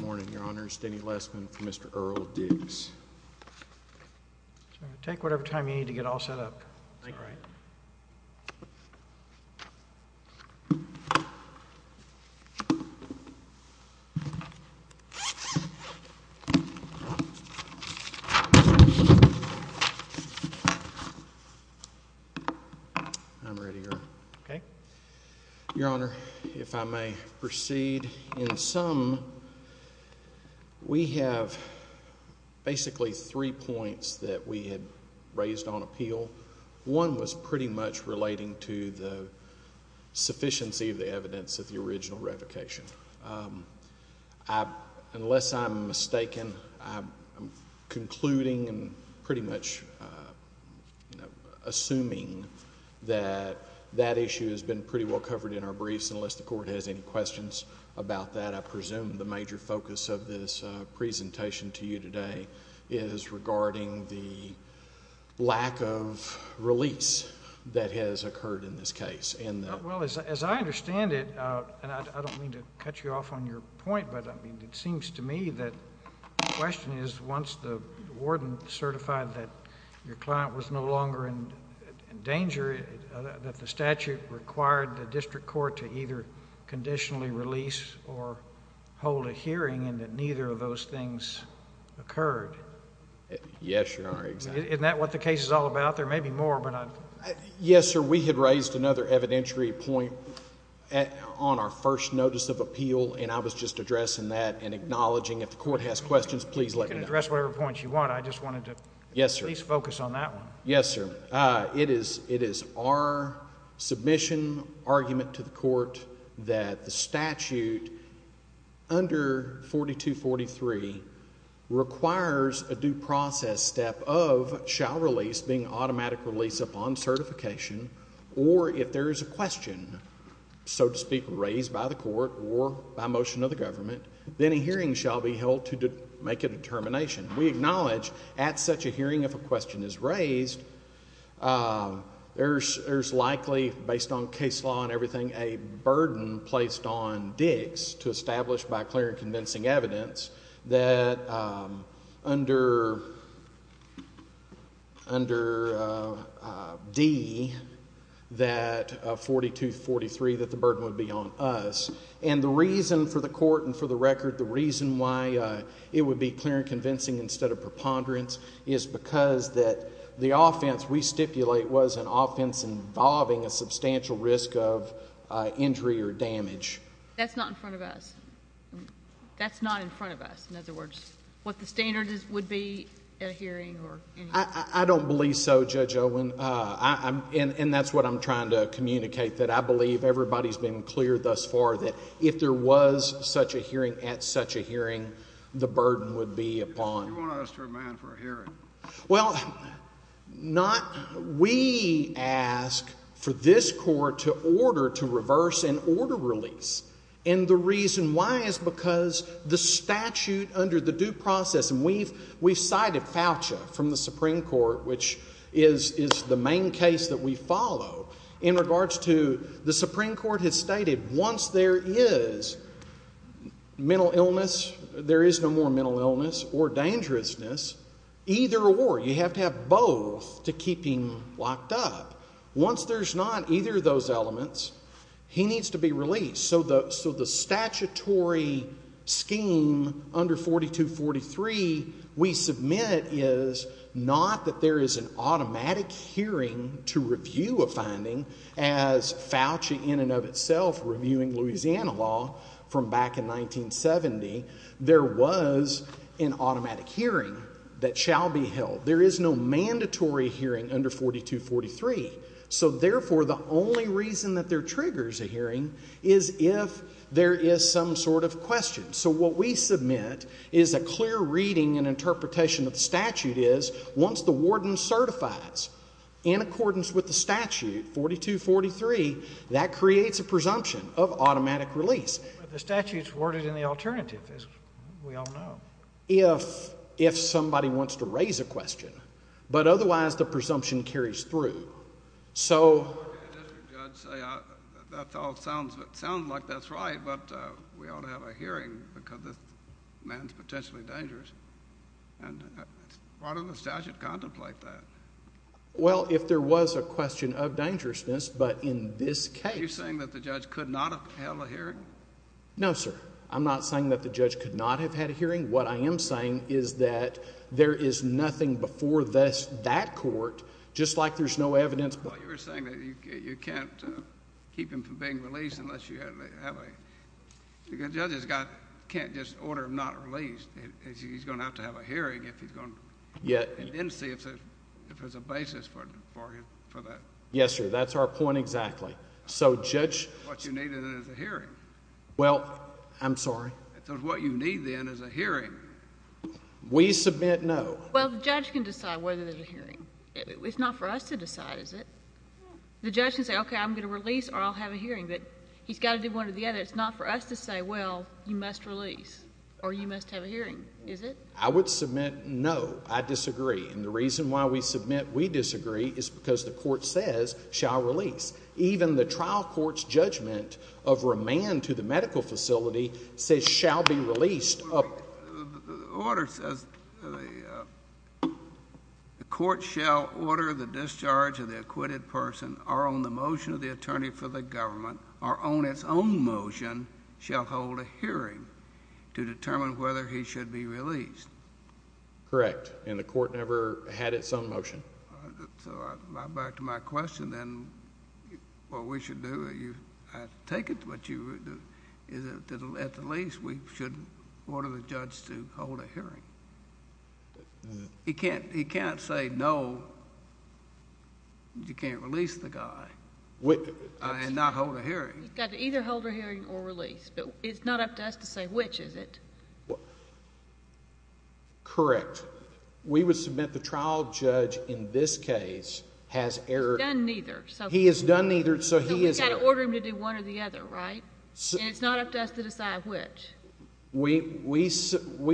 Morning, Your Honor. Steny Lessman for Mr. Earl Dix. Take whatever time you need to get all set up. Thank you, Your Honor. I'm ready, Your Honor. Okay. Your Honor, if I may proceed. In sum, we have basically three points that we had raised on appeal. One was pretty much relating to the sufficiency of the evidence of the original revocation. Unless I'm mistaken, I'm concluding and pretty much assuming that that issue has been pretty well covered in our briefs, unless the Court has any questions about that. I presume the major focus of this presentation to you today is regarding the lack of release that has occurred in this case. Well, as I understand it, and I don't mean to cut you off on your point, but it seems to me that the question is once the warden certified that your client was no longer in danger, that the statute required the district court to either conditionally release or hold a hearing and that neither of those things occurred. Yes, Your Honor, exactly. Isn't that what the case is all about? There may be more, but... Yes, sir. We had raised another evidentiary point on our first notice of appeal, and I was just addressing that and acknowledging if the Court has questions, please let me know. You can address whatever points you want. I just wanted to... Yes, sir.... at least focus on that one. Yes, sir. It is our submission argument to the Court that the statute under 4243 requires a due process step of shall release being automatic release upon certification, or if there is a question, so to speak, raised by the Court or by motion of the government, then a hearing shall be held to make a determination. We acknowledge at such a hearing if a question is raised, there is likely, based on case law and everything, a burden placed on Diggs to establish by clear and convincing evidence that under D that 4243 that the burden would be on us. And the reason for the Court and for the record, the reason why it would be clear and convincing instead of preponderance is because that the offense we stipulate was an offense involving a substantial risk of injury or damage. That's not in front of us. That's not in front of us. In other words, what the standard would be at a hearing or... I don't believe so, Judge Owen, and that's what I'm trying to communicate, that I believe everybody's been clear thus far that if there was such a hearing at such a hearing, the burden would be upon... You want to ask your man for a hearing. Well, not... we ask for this Court to order to reverse an order release, and the reason why is because the statute under the due process, and we've cited Foucha from the Supreme Court, which is the main case that we follow, in regards to the Supreme Court has stated once there is mental illness, there is no more mental illness or dangerousness, either or. You have to have both to keep him locked up. Once there's not either of those elements, he needs to be released. So the statutory scheme under 4243 we submit is not that there is an automatic hearing to review a finding, as Foucha in and of itself reviewing Louisiana law from back in 1970, there was an automatic hearing that shall be held. There is no mandatory hearing under 4243. So, therefore, the only reason that there triggers a hearing is if there is some sort of question. So what we submit is a clear reading and interpretation of the statute is once the warden certifies in accordance with the statute, 4243, that creates a presumption of automatic release. But the statute's worded in the alternative, as we all know. If somebody wants to raise a question. But otherwise the presumption carries through. So. Mr. Judge, that all sounds like that's right, but we ought to have a hearing because this man's potentially dangerous. Why don't the statute contemplate that? Well, if there was a question of dangerousness, but in this case. Are you saying that the judge could not have held a hearing? No, sir. I'm not saying that the judge could not have had a hearing. What I am saying is that there is nothing before that court, just like there's no evidence. Well, you were saying that you can't keep him from being released unless you have a... The judge can't just order him not released. He's going to have to have a hearing if he's going to... Yes. And then see if there's a basis for that. Yes, sir. That's our point exactly. So, Judge... What you needed is a hearing. Well, I'm sorry? I said what you need then is a hearing. We submit no. Well, the judge can decide whether there's a hearing. It's not for us to decide, is it? No. The judge can say, okay, I'm going to release or I'll have a hearing. But he's got to do one or the other. It's not for us to say, well, you must release or you must have a hearing, is it? I would submit no. I disagree. And the reason why we submit we disagree is because the court says shall release. Even the trial court's judgment of remand to the medical facility says shall be released. Order says the court shall order the discharge of the acquitted person or on the motion of the attorney for the government or on its own motion shall hold a hearing to determine whether he should be released. Correct. And the court never had its own motion. So back to my question then, what we should do, I take it what you would do, is that at the least we should order the judge to hold a hearing. He can't say no, you can't release the guy and not hold a hearing. He's got to either hold a hearing or release. But it's not up to us to say which, is it? Correct. We would submit the trial judge in this case has error. He's done neither. He has done neither, so he is error. So we've got to order him to do one or the other, right? And it's not up to us to decide which. We submit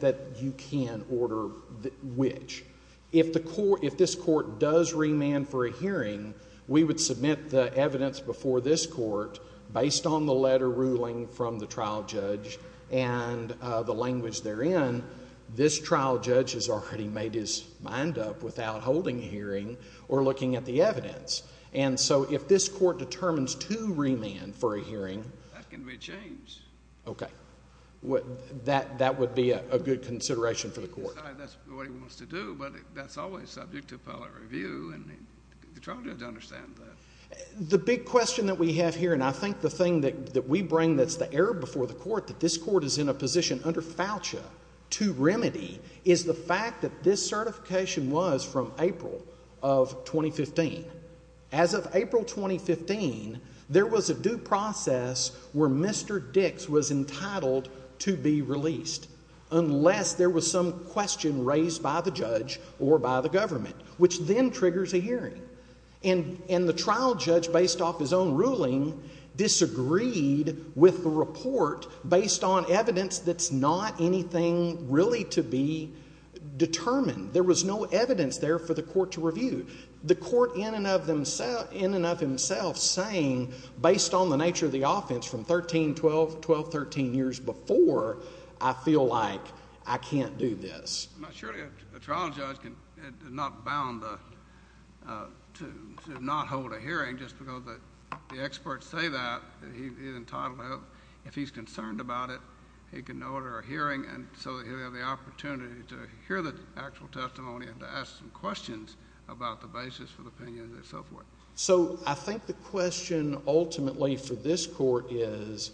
that you can order which. If this court does remand for a hearing, we would submit the evidence before this court based on the letter ruling from the trial judge and the language therein. This trial judge has already made his mind up without holding a hearing or looking at the evidence. And so if this court determines to remand for a hearing. That can be changed. Okay. That would be a good consideration for the court. That's what he wants to do, but that's always subject to appellate review, and the trial judge understands that. The big question that we have here, and I think the thing that we bring that's the error before the court, that this court is in a position under FAUTA to remedy, is the fact that this certification was from April of 2015. As of April 2015, there was a due process where Mr. Dix was entitled to be released unless there was some question raised by the judge or by the government, which then triggers a hearing. And the trial judge, based off his own ruling, disagreed with the report based on evidence that's not anything really to be determined. There was no evidence there for the court to review. The court in and of himself saying, based on the nature of the offense from 13, 12, 12, 13 years before, I feel like I can't do this. Surely a trial judge is not bound to not hold a hearing just because the experts say that he's entitled to. If he's concerned about it, he can order a hearing so that he'll have the opportunity to hear the actual testimony and to ask some questions about the basis for the opinion and so forth. So I think the question ultimately for this court is,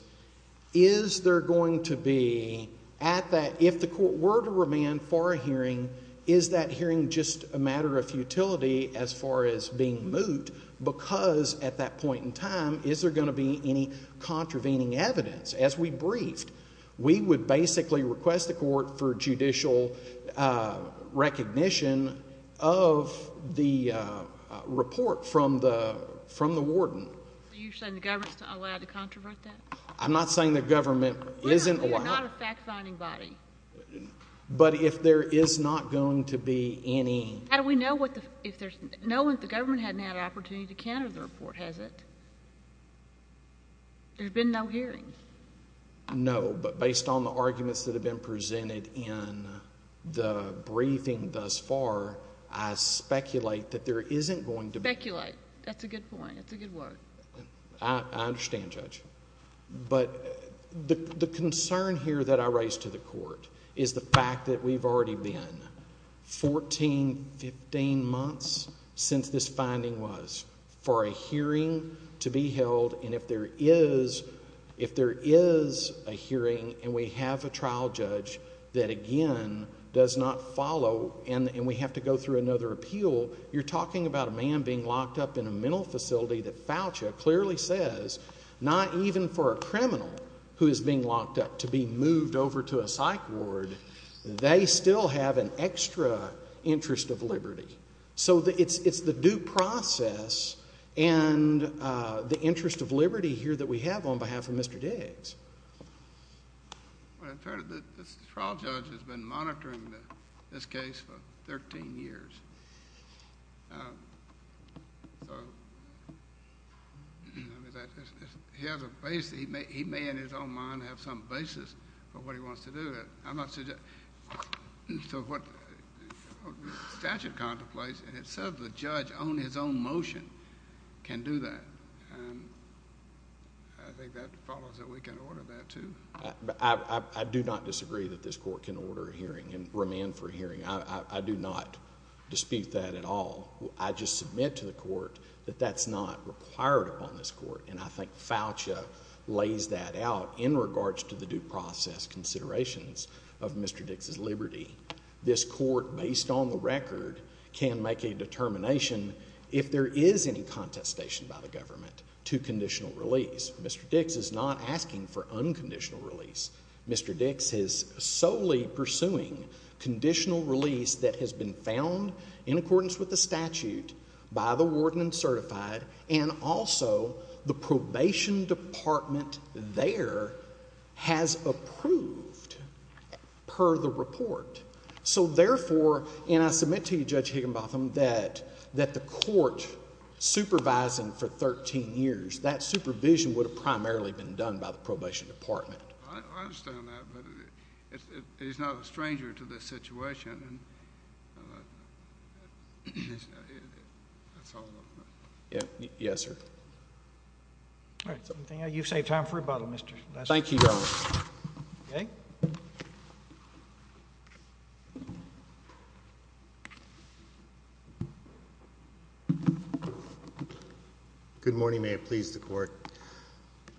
is there going to be at that, if the court were to remand for a hearing, is that hearing just a matter of futility as far as being moot? Because at that point in time, is there going to be any contravening evidence? As we briefed, we would basically request the court for judicial recognition of the report from the warden. You're saying the government's not allowed to controvert that? I'm not saying the government isn't allowed. We're not a fact-finding body. But if there is not going to be any. How do we know if the government hasn't had an opportunity to counter the report, has it? There's been no hearings. No, but based on the arguments that have been presented in the briefing thus far, I speculate that there isn't going to be. Speculate. That's a good point. That's a good word. I understand, Judge. But the concern here that I raise to the court is the fact that we've already been 14, 15 months since this finding was for a hearing to be held. And if there is a hearing and we have a trial judge that, again, does not follow and we have to go through another appeal, you're talking about a man being locked up in a mental facility that Foucha clearly says not even for a criminal who is being locked up to be moved over to a psych ward, they still have an extra interest of liberty. So it's the due process and the interest of liberty here that we have on behalf of Mr. Diggs. Well, the trial judge has been monitoring this case for 13 years. So he has a base. He may in his own mind have some basis for what he wants to do. I'm not suggesting. So what statute contemplates and it says the judge on his own motion can do that. I think that follows that we can order that too. I do not disagree that this court can order a hearing and remand for a hearing. I do not dispute that at all. I just submit to the court that that's not required upon this court. And I think Foucha lays that out in regards to the due process considerations of Mr. Diggs' liberty. This court based on the record can make a determination if there is any contestation by the government to conditional release. Mr. Diggs is not asking for unconditional release. Mr. Diggs is solely pursuing conditional release that has been found in accordance with the statute by the warden and certified and also the probation department there has approved per the report. So, therefore, and I submit to you, Judge Higginbotham, that the court supervising for 13 years, that supervision would have primarily been done by the probation department. I understand that, but he's not a stranger to this situation. Yes, sir. All right. You've saved time for rebuttal, Mr. Lesser. Thank you, Your Honor. Okay. Good morning. May it please the court.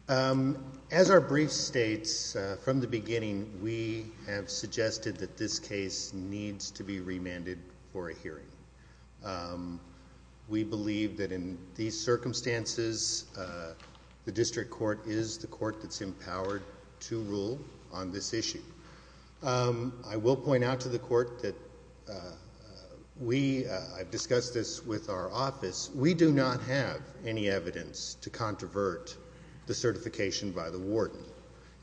As our brief states from the beginning, we have suggested that this case needs to be remanded for a hearing. We believe that in these circumstances, the district court is the court that's empowered to rule on this issue. I will point out to the court that we have discussed this with our office. We do not have any evidence to controvert the certification by the warden,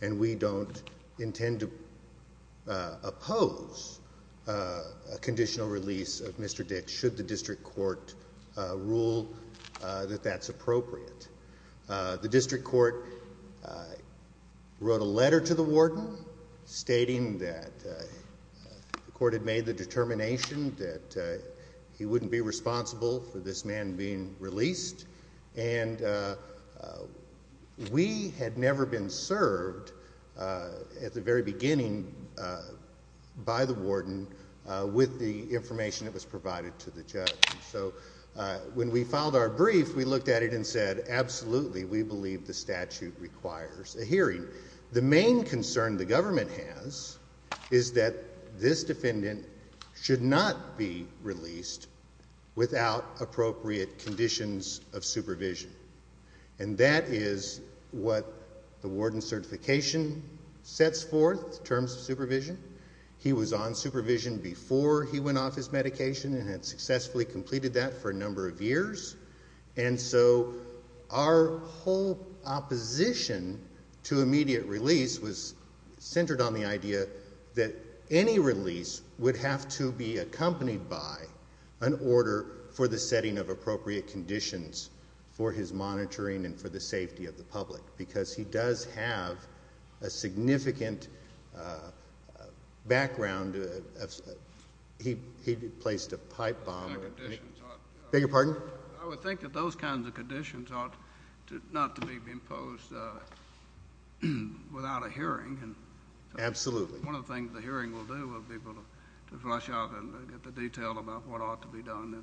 and we don't intend to oppose a conditional release of Mr. Diggs should the district court rule that that's appropriate. The district court wrote a letter to the warden stating that the court had made the determination that he wouldn't be responsible for this man being released, and we had never been served at the very beginning by the warden with the information that was provided to the judge. So when we filed our brief, we looked at it and said, absolutely, we believe the statute requires a hearing. The main concern the government has is that this defendant should not be released without appropriate conditions of supervision, and that is what the warden's certification sets forth in terms of supervision. He was on supervision before he went off his medication and had successfully completed that for a number of years, and so our whole opposition to immediate release was centered on the idea that any release would have to be accompanied by an order for the setting of appropriate conditions for his monitoring and for the safety of the public because he does have a significant background. He placed a pipe bomb. Beg your pardon? I would think that those kinds of conditions ought not to be imposed without a hearing. Absolutely. One of the things the hearing will do will be able to flush out and get the detail about what ought to be done.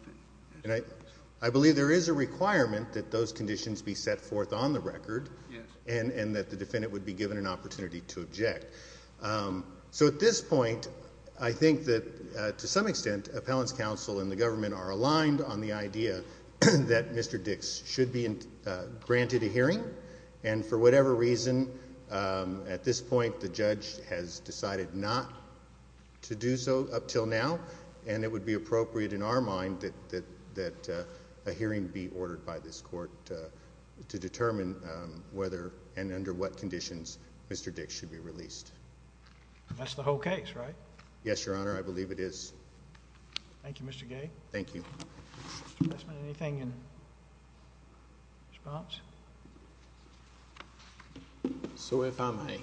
I believe there is a requirement that those conditions be set forth on the record and that the defendant would be given an opportunity to object. So at this point, I think that to some extent, appellant's counsel and the government are aligned on the idea that Mr. Dix should be granted a hearing, and for whatever reason at this point the judge has decided not to do so up until now, and it would be appropriate in our mind that a hearing be ordered by this court to determine whether and under what conditions Mr. Dix should be released. That's the whole case, right? Yes, Your Honor. I believe it is. Thank you, Mr. Gay. Thank you. Mr. Westman, anything in response? So if I may,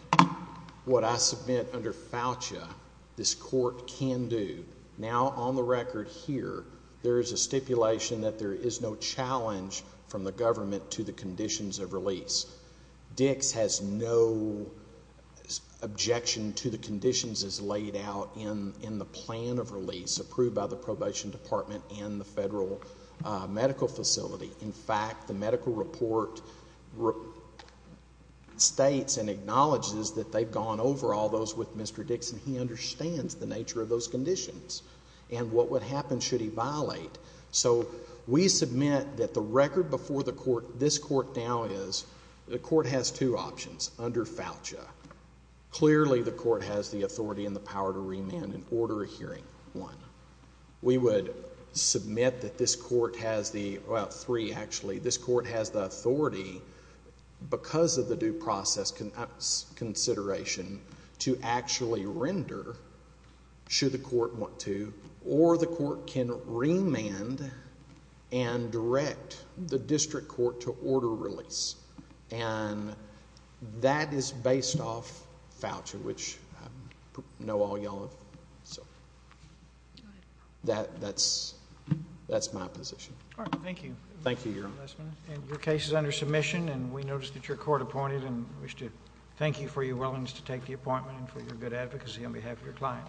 what I submit under FAUCIA, this court can do. Now on the record here, there is a stipulation that there is no challenge from the government to the conditions of release. Dix has no objection to the conditions as laid out in the plan of release approved by the Probation Department and the Federal Medical Facility. In fact, the medical report states and acknowledges that they've gone over all those with Mr. Dix, and he understands the nature of those conditions and what would happen should he violate. So we submit that the record before this court now is the court has two options under FAUCIA. Clearly the court has the authority and the power to remand and order a hearing, one. We would submit that this court has the, well, three actually. This court has the authority, because of the due process consideration, to actually render, should the court want to, or the court can remand and direct the district court to order release. And that is based off FAUCIA, which I know all y'all have. So that's my position. All right, thank you. Thank you, Your Honor. And your case is under submission, and we notice that you're court-appointed, and wish to thank you for your willingness to take the appointment and for your good advocacy on behalf of your client.